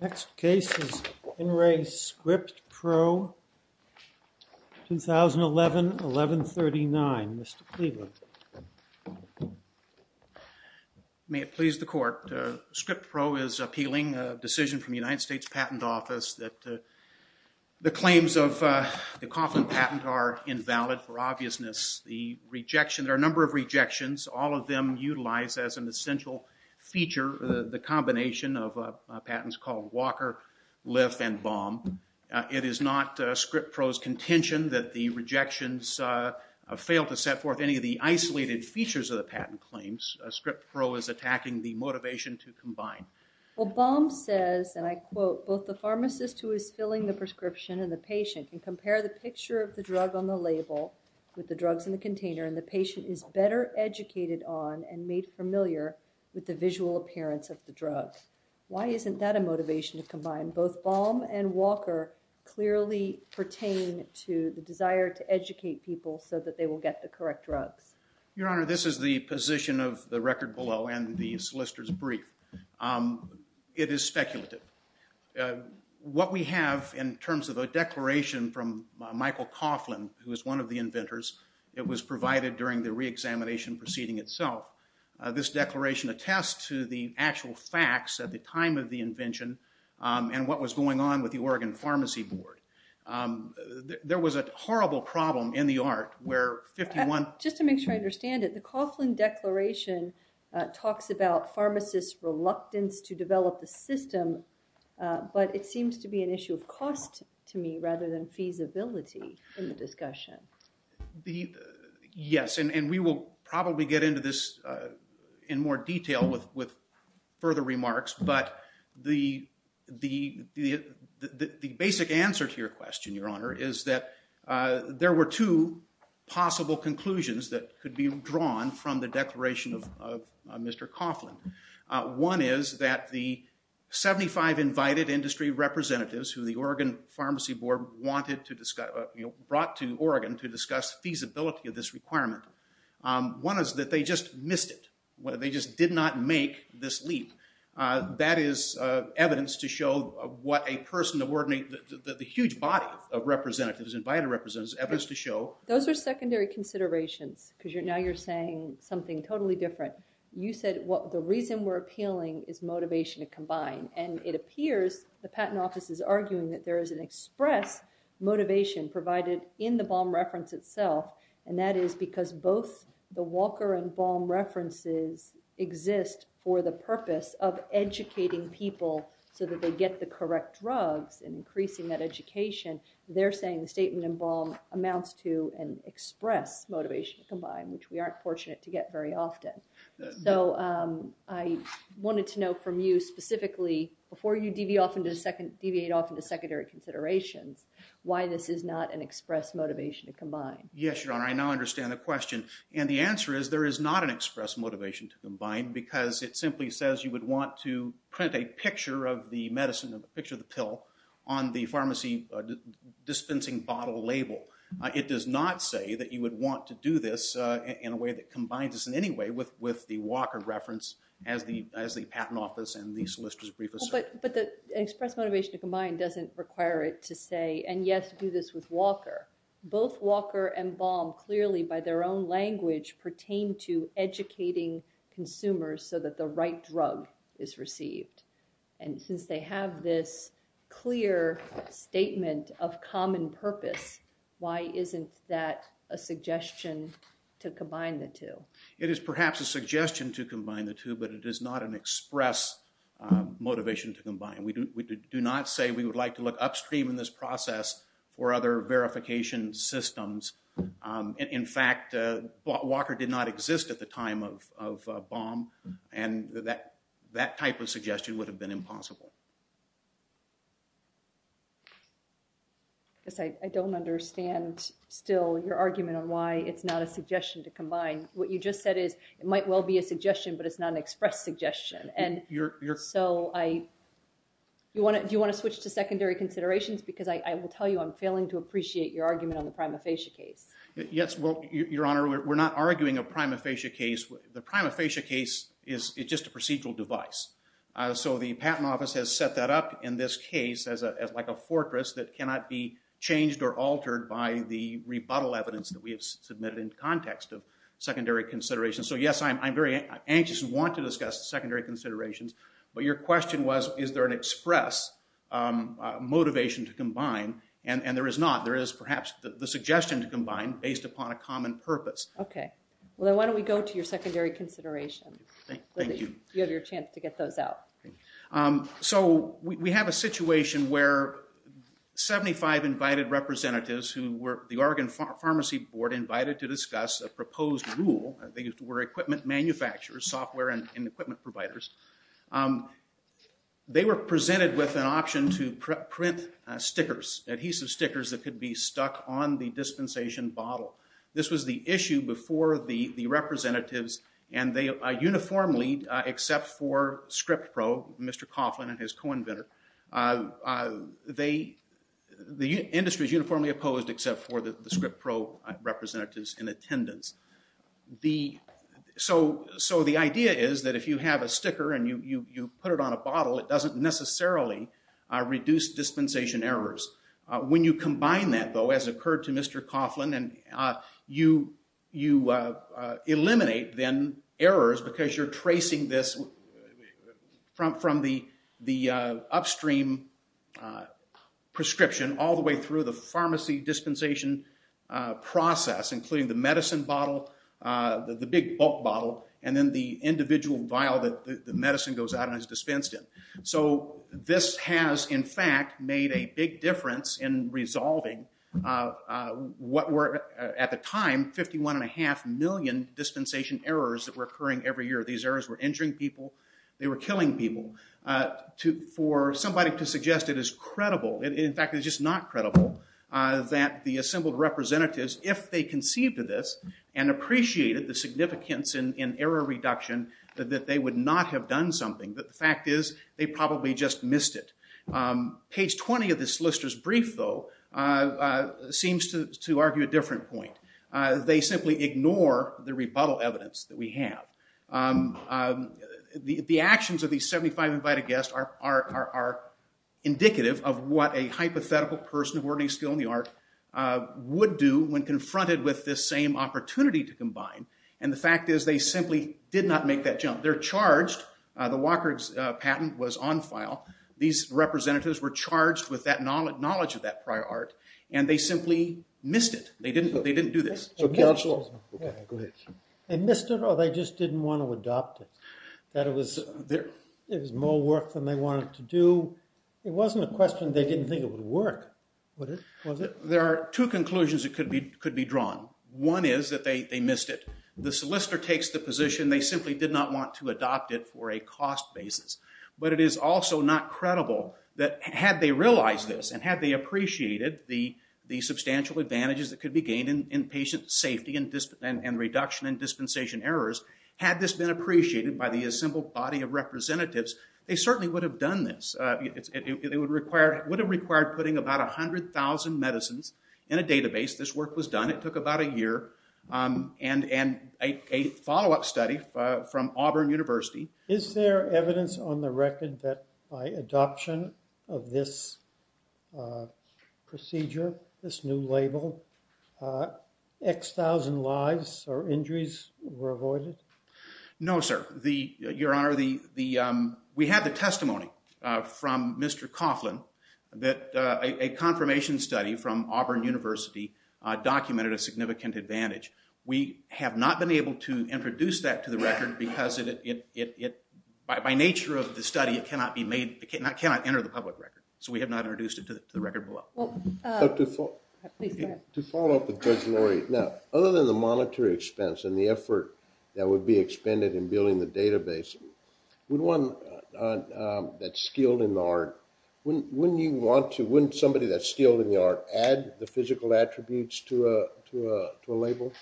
Next case is INRE SCRIPTPRO, 2011, 11-01-2013. 11-39, Mr. Cleveland. MR. CLEVELAND May it please the Court, SCRIPTPRO is appealing a decision from the United States Patent Office that the claims of the Coughlin patent are invalid for obviousness. The rejection, there are a number of rejections, all of them utilize as an essential feature the combination of patents called Walker, Lif, and Baum. It is not SCRIPTPRO's contention that the rejections fail to set forth any of the isolated features of the patent claims. SCRIPTPRO is attacking the motivation to combine. MS. GOTTLIEB Well, Baum says, and I quote, both the pharmacist who is filling the prescription and the patient can compare the picture of the drug on the label with the drugs in the container and the patient is better educated on and made familiar with the visual appearance of the drug. Why isn't that a motivation to combine? Both Baum and Walker clearly pertain to the desire to educate people so that they will get the correct drugs. MR. CLEVELAND Your Honor, this is the position of the record below and the solicitor's brief. It is speculative. What we have in terms of a declaration from Michael Coughlin, who is one of the inventors, it was provided during the reexamination proceeding itself. This declaration attests to the actual facts at the time of the invention and what was going on with the Oregon Pharmacy Board. There was a horrible problem in the art where 51… MS. GOTTLIEB Just to make sure I understand it, the Coughlin declaration talks about pharmacists' reluctance to develop a system, but it seems to be an issue of cost to me rather than feasibility in the discussion. MR. CLEVELAND In more detail with further remarks, but the basic answer to your question, Your Honor, is that there were two possible conclusions that could be drawn from the declaration of Mr. Coughlin. One is that the 75 invited industry representatives who the Oregon Pharmacy Board wanted to discuss… brought to Oregon to discuss feasibility of this requirement. One is that they just missed it. They just did not make this leap. That is evidence to show what a person of… the huge body of representatives, invited representatives, evidence to show… MS. GOTTLIEB Those are secondary considerations because now you're saying something totally different. You said the reason we're appealing is motivation to combine, and it appears the Patent Office is arguing that there is an express motivation provided in the bomb reference itself, and that is because both the Walker and Baum references exist for the purpose of educating people so that they get the correct drugs, and increasing that education, they're saying the statement in Baum amounts to an express motivation to combine, which we aren't fortunate to get very often. So, I wanted to know from you specifically, before you deviate off into secondary considerations, why this is not an express motivation to combine. MR. GOTTLIEB I understand the question, and the answer is there is not an express motivation to combine because it simply says you would want to print a picture of the medicine, a picture of the pill, on the pharmacy dispensing bottle label. It does not say that you would want to do this in a way that combines this in any way with the Walker reference as the Patent Office and the solicitor's brief assert. MS. GOTTLIEB But the express motivation to combine doesn't require it to say, and yes, do this with Walker. Both Walker and Baum clearly, by their own language, pertain to educating consumers so that the right drug is received. And since they have this clear statement of common purpose, why isn't that a suggestion to combine the two? MR. GOTTLIEB It is perhaps a suggestion to combine the two, but it is not an express motivation to combine. We do not say we would like to look upstream in this process for other verification systems. In fact, Walker did not exist at the time of Baum, and that type of suggestion would have been impossible. MS. GOTTLIEB I don't understand still your argument on why it's not a suggestion to combine. What you just said is it might well be a suggestion, but it's not an express suggestion. Do you want to switch to secondary considerations? Because I will tell you I'm failing to appreciate your argument on the prima facie case. GOTTLIEB Yes. Well, Your Honor, we're not arguing a prima facie case. The prima facie case is just a procedural device. So the Patent Office has set that up in this case as like a fortress that cannot be changed or altered by the rebuttal evidence that we have submitted in context of secondary considerations. So, yes, I'm very anxious and want to discuss secondary considerations, but your question was is there an express motivation to combine, and there is not. There is perhaps the suggestion to combine based upon a common purpose. MS. GOTTLIEB Okay. Well, then why don't we go to your secondary considerations? GOTTLIEB Thank you. GOTTLIEB You have your chance to get those out. GOTTLIEB So we have a situation where 75 invited representatives who were the Oregon Pharmacy Board invited to discuss a proposed rule. They were equipment manufacturers, software and equipment providers. They were presented with an option to print stickers, adhesive stickers that could be stuck on the dispensation bottle. This was the issue before the representatives, and they uniformly except for ScriptPro, Mr. Coughlin. The industry is uniformly opposed except for the ScriptPro representatives in attendance. So the idea is that if you have a sticker and you put it on a bottle, it doesn't necessarily reduce dispensation errors. When you combine that, though, as occurred to Mr. Coughlin, you eliminate then errors because you're tracing this from the upstream prescription all the way through the pharmacy dispensation process, including the medicine bottle, the big bulk bottle, and then the individual vial that the medicine goes out and is dispensed in. So this has, in fact, made a big difference in resolving what were at the time 51.5 million dispensation errors that were occurring every year. These errors were injuring people. They were killing people. For somebody to suggest it is credible, in fact, it's just not credible, that the assembled representatives, if they conceived of this and appreciated the significance in error reduction, that they would not have done something. But the fact is they probably just missed it. Page 20 of the solicitor's brief, though, seems to argue a different point. They simply ignore the rebuttal evidence that we have. The actions of these 75 invited guests are indicative of what a hypothetical person of ordinary skill in the art would do when confronted with this same opportunity to combine. And the fact is they simply did not make that jump. They're charged. The Walker patent was on file. These representatives were charged with that knowledge of that prior art, and they simply missed it. They didn't do this. So counsel? Go ahead. They missed it, or they just didn't want to adopt it? That it was more work than they wanted to do? It wasn't a question they didn't think it would work, was it? There are two conclusions that could be drawn. One is that they missed it. The solicitor takes the position they simply did not want to adopt it for a cost basis. But it is also not credible that had they realized this and had they appreciated the benefits that could be gained in patient safety and reduction in dispensation errors, had this been appreciated by the assembled body of representatives, they certainly would have done this. It would have required putting about 100,000 medicines in a database. This work was done. It took about a year, and a follow-up study from Auburn University. Is there evidence on the record that by adoption of this procedure, this new label, X,000 lives or injuries were avoided? No, sir. Your Honor, we have the testimony from Mr. Coughlin that a confirmation study from Auburn University documented a significant advantage. We have not been able to introduce that to the record because it, by nature of the study, it cannot be made, it cannot enter the public record. So we have not introduced it to the record below. To follow up with Judge Lori, now, other than the monetary expense and the effort that would be expended in building the database, would one that's skilled in the art, wouldn't somebody that's skilled in the art add the physical attributes to a label?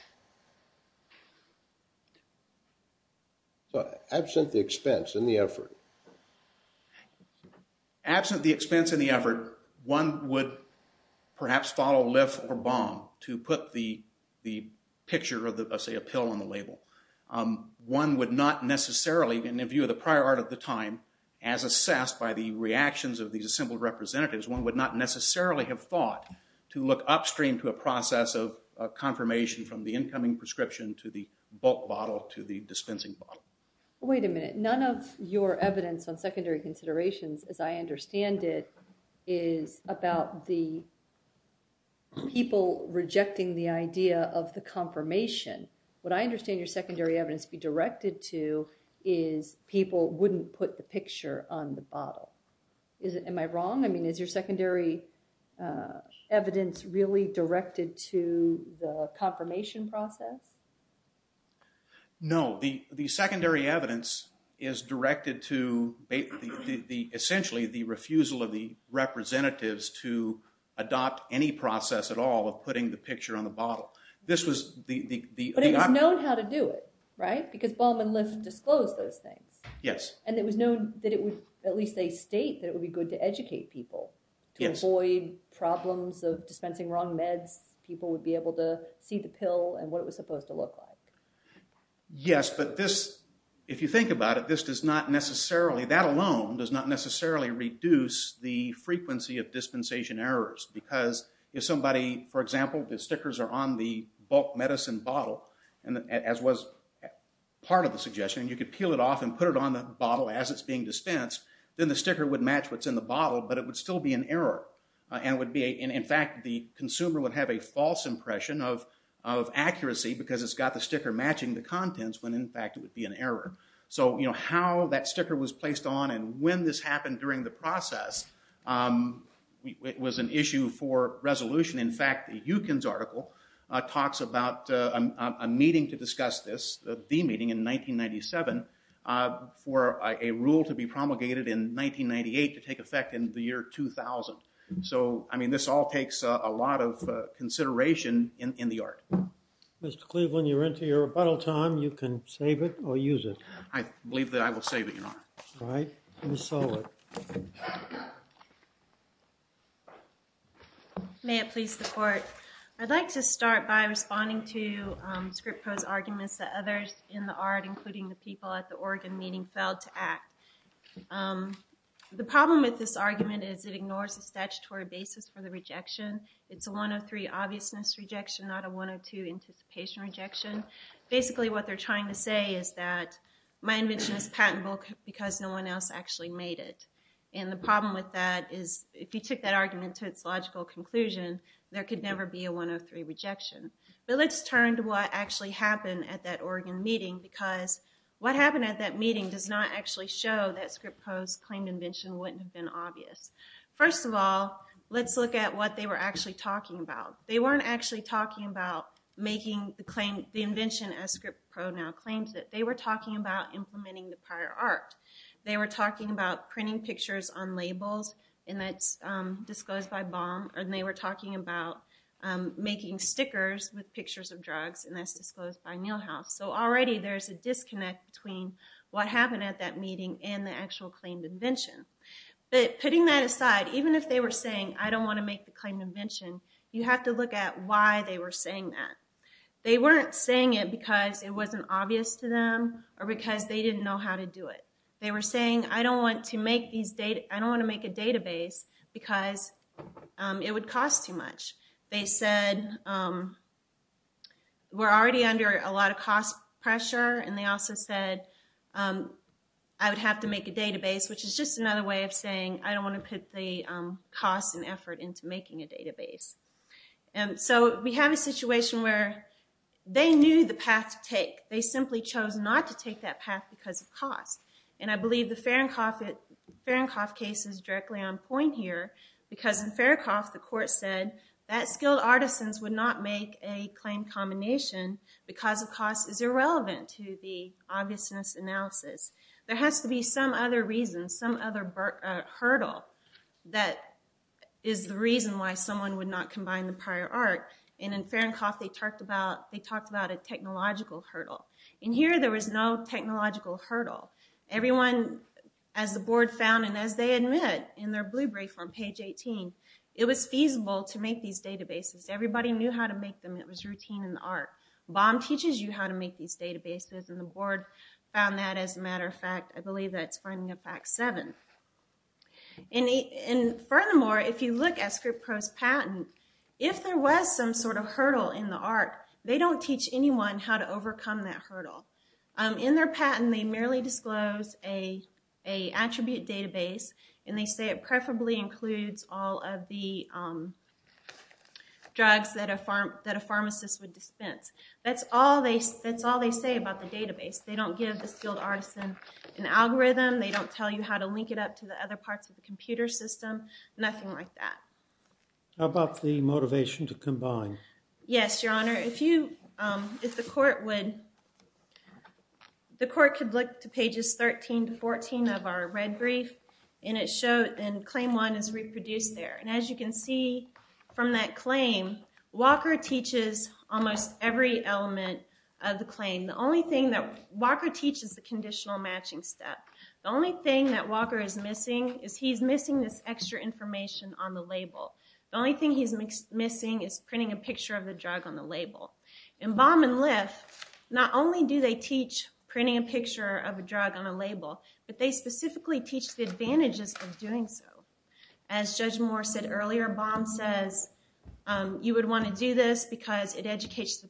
Absent the expense and the effort. Absent the expense and the effort, one would perhaps follow lift or bomb to put the picture of, say, a pill on the label. One would not necessarily, in the view of the prior art of the time, as assessed by the reactions of these assembled representatives, one would not necessarily have thought to look upstream to a process of confirmation from the incoming prescription to the bulk bottle to the dispensing bottle. Wait a minute. None of your evidence on secondary considerations, as I understand it, is about the people rejecting the idea of the confirmation. What I understand your secondary evidence to be directed to is people wouldn't put the picture on the bottle. Am I wrong? I mean, is your secondary evidence really directed to the confirmation process? No. The secondary evidence is directed to, essentially, the refusal of the representatives to adopt any process at all of putting the picture on the bottle. This was the... But it was known how to do it, right? Because bomb and lift disclosed those things. Yes. And it was known that it would, at least they state, that it would be good to educate people to avoid problems of dispensing wrong meds. People would be able to see the pill and what it was supposed to look like. Yes, but this, if you think about it, this does not necessarily, that alone does not necessarily reduce the frequency of dispensation errors. Because if somebody, for example, the stickers are on the bulk medicine bottle, as was part of the suggestion, you could peel it off and put it on the bottle as it's being dispensed, then the sticker would match what's in the bottle, but it would still be an error. And it would be, in fact, the consumer would have a false impression of accuracy because it's got the sticker matching the contents when, in fact, it would be an error. So how that sticker was placed on and when this happened during the process was an issue for resolution. In fact, Yukon's article talks about a meeting to discuss this, the meeting in 1997, for a rule to be promulgated in 1998 to take effect in the year 2000. So I mean, this all takes a lot of consideration in the art. Mr. Cleveland, you're into your rebuttal time. You can save it or use it. I believe that I will save it, Your Honor. All right. Ms. Sullivan. May it please the Court, I'd like to start by responding to Scrippo's arguments that others in the art, including the people at the Oregon meeting, failed to act. The problem with this argument is it ignores the statutory basis for the rejection. It's a 103 obviousness rejection, not a 102 anticipation rejection. Basically what they're trying to say is that my invention is patentable because no one else actually made it. And the problem with that is if you took that argument to its logical conclusion, there could never be a 103 rejection. But let's turn to what actually happened at that Oregon meeting because what happened at that meeting does not actually show that Scrippo's claimed invention wouldn't have been obvious. First of all, let's look at what they were actually talking about. They weren't actually talking about making the claim, the invention as Scrippo now claims it. They were talking about implementing the prior art. They were talking about printing pictures on labels, and that's disclosed by Baum. And they were talking about making stickers with pictures of drugs, and that's disclosed by Nielhaus. So already there's a disconnect between what happened at that meeting and the actual claimed invention. But putting that aside, even if they were saying, I don't want to make the claimed invention, you have to look at why they were saying that. They weren't saying it because it wasn't obvious to them or because they didn't know how to do it. They were saying, I don't want to make a database because it would cost too much. They said, we're already under a lot of cost pressure, and they also said, I would have to make a database, which is just another way of saying, I don't want to put the cost and effort into making a database. And so we have a situation where they knew the path to take. They simply chose not to take that path because of cost. And I believe the Fahrenkopf case is directly on point here, because in Fahrenkopf the court said that skilled artisans would not make a claimed combination because the cost is irrelevant to the obviousness analysis. There has to be some other reason, some other hurdle that is the reason why someone would not combine the prior art. And in Fahrenkopf they talked about a technological hurdle. In here there was no technological hurdle. Everyone, as the board found and as they admit in their blue brief on page 18, it was feasible to make these databases. Everybody knew how to make them. It was routine in the art. Baum teaches you how to make these databases, and the board found that as a matter of fact. I believe that's finding of fact seven. And furthermore, if you look at ScriptPro's patent, if there was some sort of hurdle in the art, they don't teach anyone how to overcome that hurdle. In their patent they merely disclose a attribute database, and they say it preferably includes all of the drugs that a pharmacist would dispense. That's all they say about the database. They don't give the skilled artisan an algorithm. They don't tell you how to link it up to the other parts of the computer system, nothing like that. How about the motivation to combine? Yes, your honor, if you, if the court would, the court could look to pages 13 to 14 of our red brief, and it showed, and claim one is reproduced there. And as you can see from that claim, Walker teaches almost every element of the claim. The only thing that Walker teaches is the conditional matching step. The only thing that Walker is missing is he's missing this extra information on the label. The only thing he's missing is printing a picture of the drug on the label. In Baum and Liff, not only do they teach printing a picture of a drug on a label, but they specifically teach the advantages of doing so. As Judge Moore said earlier, Baum says you would want to do this because it educates the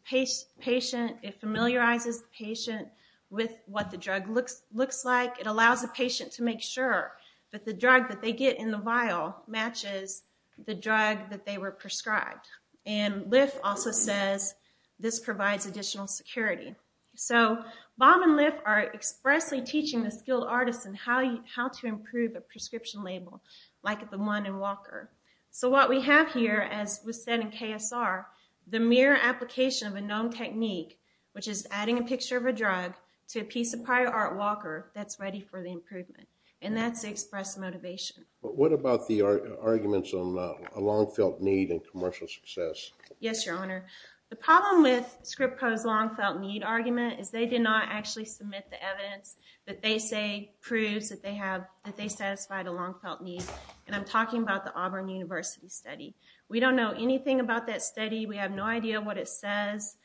patient, it familiarizes the patient with what the drug looks like, it allows the patient to make sure that the drug that they get in the vial matches the drug that they were prescribed. And Liff also says this provides additional security. So Baum and Liff are expressly teaching the skilled artisan how to improve a prescription label like the one in Walker. So what we have here, as was said in KSR, the mere application of a known technique, which is adding a picture of a drug, to a piece of prior art, Walker, that's ready for the improvement. And that's the express motivation. What about the arguments on a long-felt need in commercial success? Yes, Your Honor. The problem with Scrippo's long-felt need argument is they did not actually submit the evidence that they say proves that they satisfied a long-felt need, and I'm talking about the Auburn University study. We don't know anything about that study. We have no idea what it says.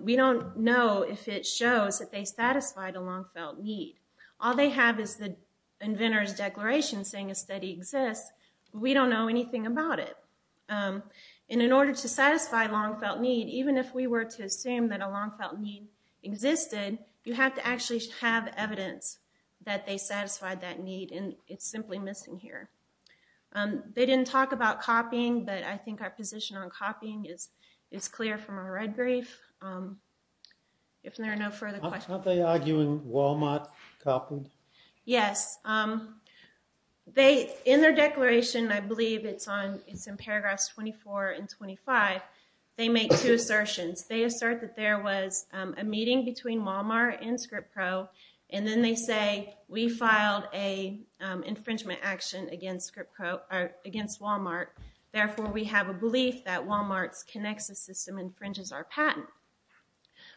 We don't know if it shows that they satisfied a long-felt need. All they have is the inventor's declaration saying a study exists, but we don't know anything about it. And in order to satisfy a long-felt need, even if we were to assume that a long-felt need existed, you have to actually have evidence that they satisfied that need, and it's simply missing here. They didn't talk about copying, but I think our position on copying is clear from our red brief. If there are no further questions... Aren't they arguing Walmart copied? Yes. In their declaration, I believe it's in paragraphs 24 and 25, they make two assertions. They assert that there was a meeting between Walmart and Scrippo, and then they say, we have no infringement action against Walmart, therefore we have a belief that Walmart's Connexus system infringes our patent.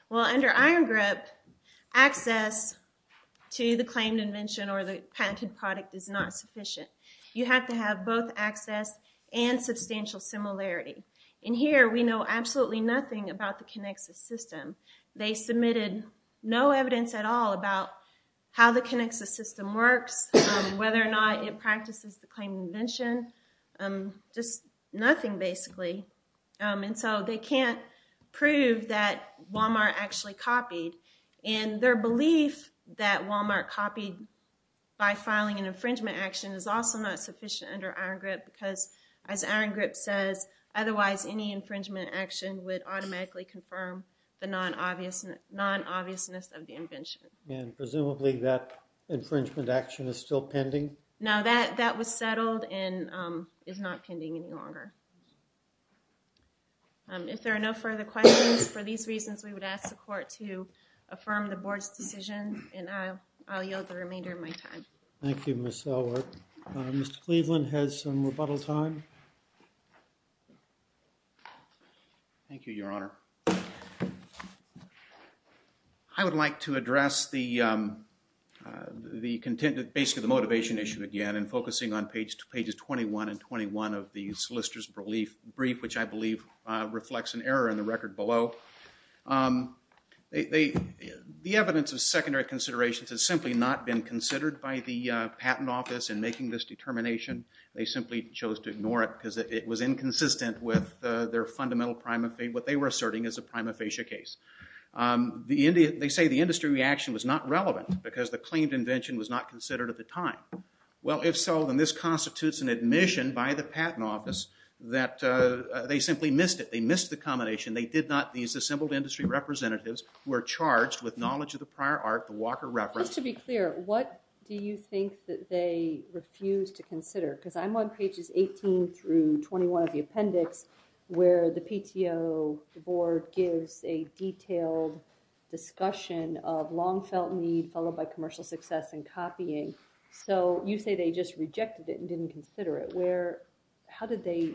Well, under Iron Grip, access to the claimed invention or the patented product is not sufficient. You have to have both access and substantial similarity. In here, we know absolutely nothing about the Connexus system. They submitted no evidence at all about how the Connexus system works, whether or not it practices the claimed invention, just nothing, basically, and so they can't prove that Walmart actually copied. Their belief that Walmart copied by filing an infringement action is also not sufficient under Iron Grip, because as Iron Grip says, otherwise any infringement action would automatically confirm the non-obviousness of the invention. And presumably that infringement action is still pending? No, that was settled and is not pending any longer. If there are no further questions, for these reasons, we would ask the Court to affirm the Board's decision, and I'll yield the remainder of my time. Thank you, Ms. Selward. Mr. Cleveland has some rebuttal time. Thank you, Your Honor. I would like to address the content, basically the motivation issue again, and focusing on pages 21 and 21 of the solicitor's brief, which I believe reflects an error in the record below. The evidence of secondary considerations has simply not been considered by the Patent Office in making this determination. They simply chose to ignore it because it was inconsistent with what they were asserting as a prima facie case. They say the industry reaction was not relevant because the claimed invention was not considered at the time. Well, if so, then this constitutes an admission by the Patent Office that they simply missed it. They missed the combination. These assembled industry representatives were charged with knowledge of the prior art, the Walker reference. Just to be clear, what do you think that they refused to consider? Because I'm on pages 18 through 21 of the appendix where the PTO Board gives a detailed discussion of long felt need followed by commercial success and copying. So, you say they just rejected it and didn't consider it. Where, how did they,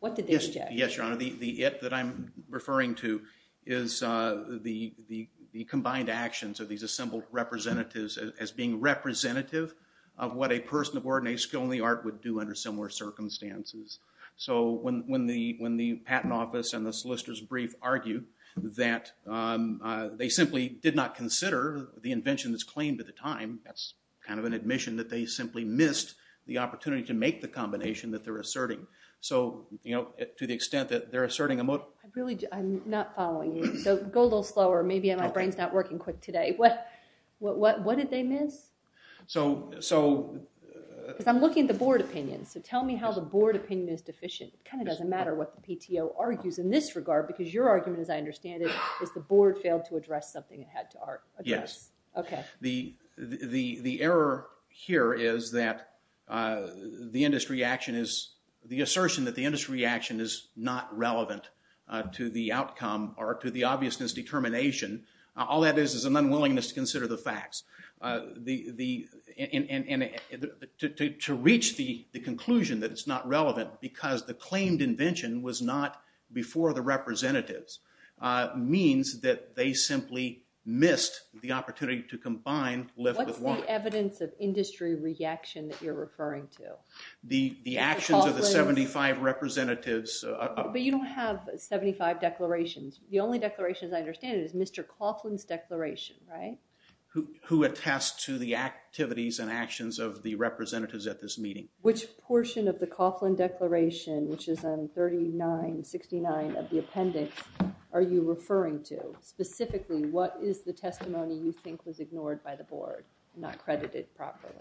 what did they reject? Yes, Your Honor. The it that I'm referring to is the combined actions of these assembled representatives as being representative of what a person of ordinary skill in the art would do under similar circumstances. So, when the Patent Office and the Solicitor's Brief argue that they simply did not consider the invention that's claimed at the time, that's kind of an admission that they simply missed the opportunity to make the combination that they're asserting. So, you know, to the extent that they're asserting a... I'm not following you. So, go a little slower. Maybe my brain's not working quick today. What did they miss? Because I'm looking at the Board opinions. So, tell me how the Board opinion is deficient. It kind of doesn't matter what the PTO argues in this regard because your argument, as I understand it, is the Board failed to address something it had to address. Okay. The error here is that the industry action is... the assertion that the industry action is not relevant to the outcome or to the obviousness determination. All that is is an unwillingness to consider the facts. And to reach the conclusion that it's not relevant because the claimed invention was not before the representatives means that they simply missed the opportunity to combine lift with line. What's the evidence of industry reaction that you're referring to? The actions of the 75 representatives... But you don't have 75 declarations. The only declaration, as I understand it, is Mr. Coughlin's declaration, right? Who attests to the activities and actions of the representatives at this meeting. Which portion of the Coughlin declaration, which is on 3969 of the appendix, are you referring to? Specifically, what is the testimony you think was ignored by the Board and not credited properly?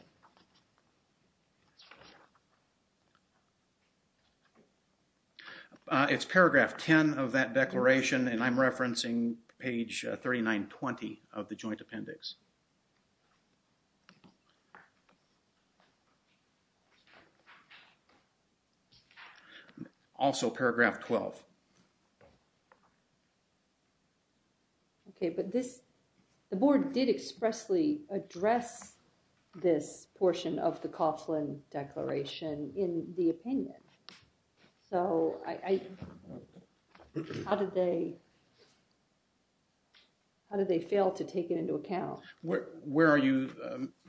It's paragraph 10 of that declaration and I'm referencing page 3920 of the joint appendix. Also, paragraph 12. Okay, but the Board did expressly address this portion of the Coughlin declaration in the opinion. So, how did they fail to take it into account? Where are you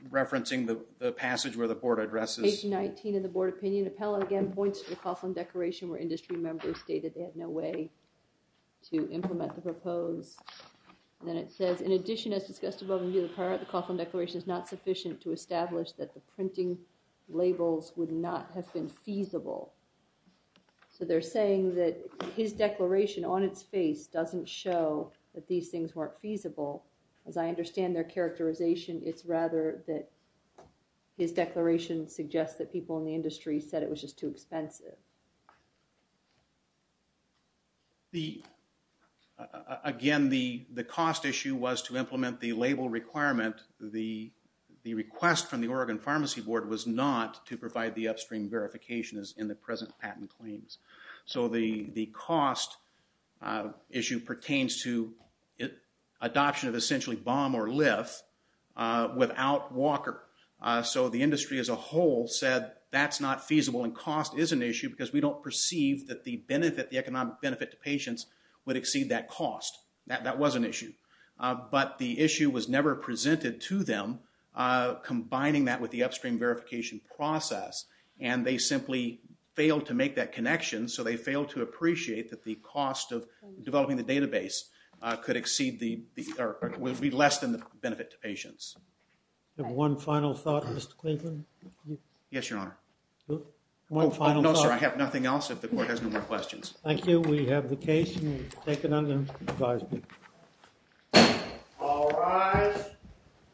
referencing the passage where the Board addresses? Page 19 of the Board opinion appellate again points to the Coughlin declaration where industry members stated they had no way to implement the proposed. Then it says, in addition, as discussed above and below the paragraph, the Coughlin declaration is not sufficient to establish that the printing labels would not have been feasible. So, they're saying that his declaration on its face doesn't show that these things weren't feasible. As I understand their characterization, it's rather that his declaration suggests that people in the industry said it was just too expensive. Again, the cost issue was to implement the label requirement. The request from the Oregon Pharmacy Board was not to provide the upstream verifications in the present patent claims. So, the cost issue pertains to adoption of essentially BOM or LIF without Walker. So, the industry as a whole said that's not feasible and cost is an issue because we don't perceive that the economic benefit to patients would exceed that cost. That was an issue. But the issue was never presented to them combining that with the upstream verification process and they simply failed to make that connection. So, they failed to appreciate that the cost of developing the database would be less than the benefit to patients. One final thought, Mr. Cleveland? Yes, Your Honor. No, sir. I have nothing else if the court has no more questions. Thank you. We have the case. All rise.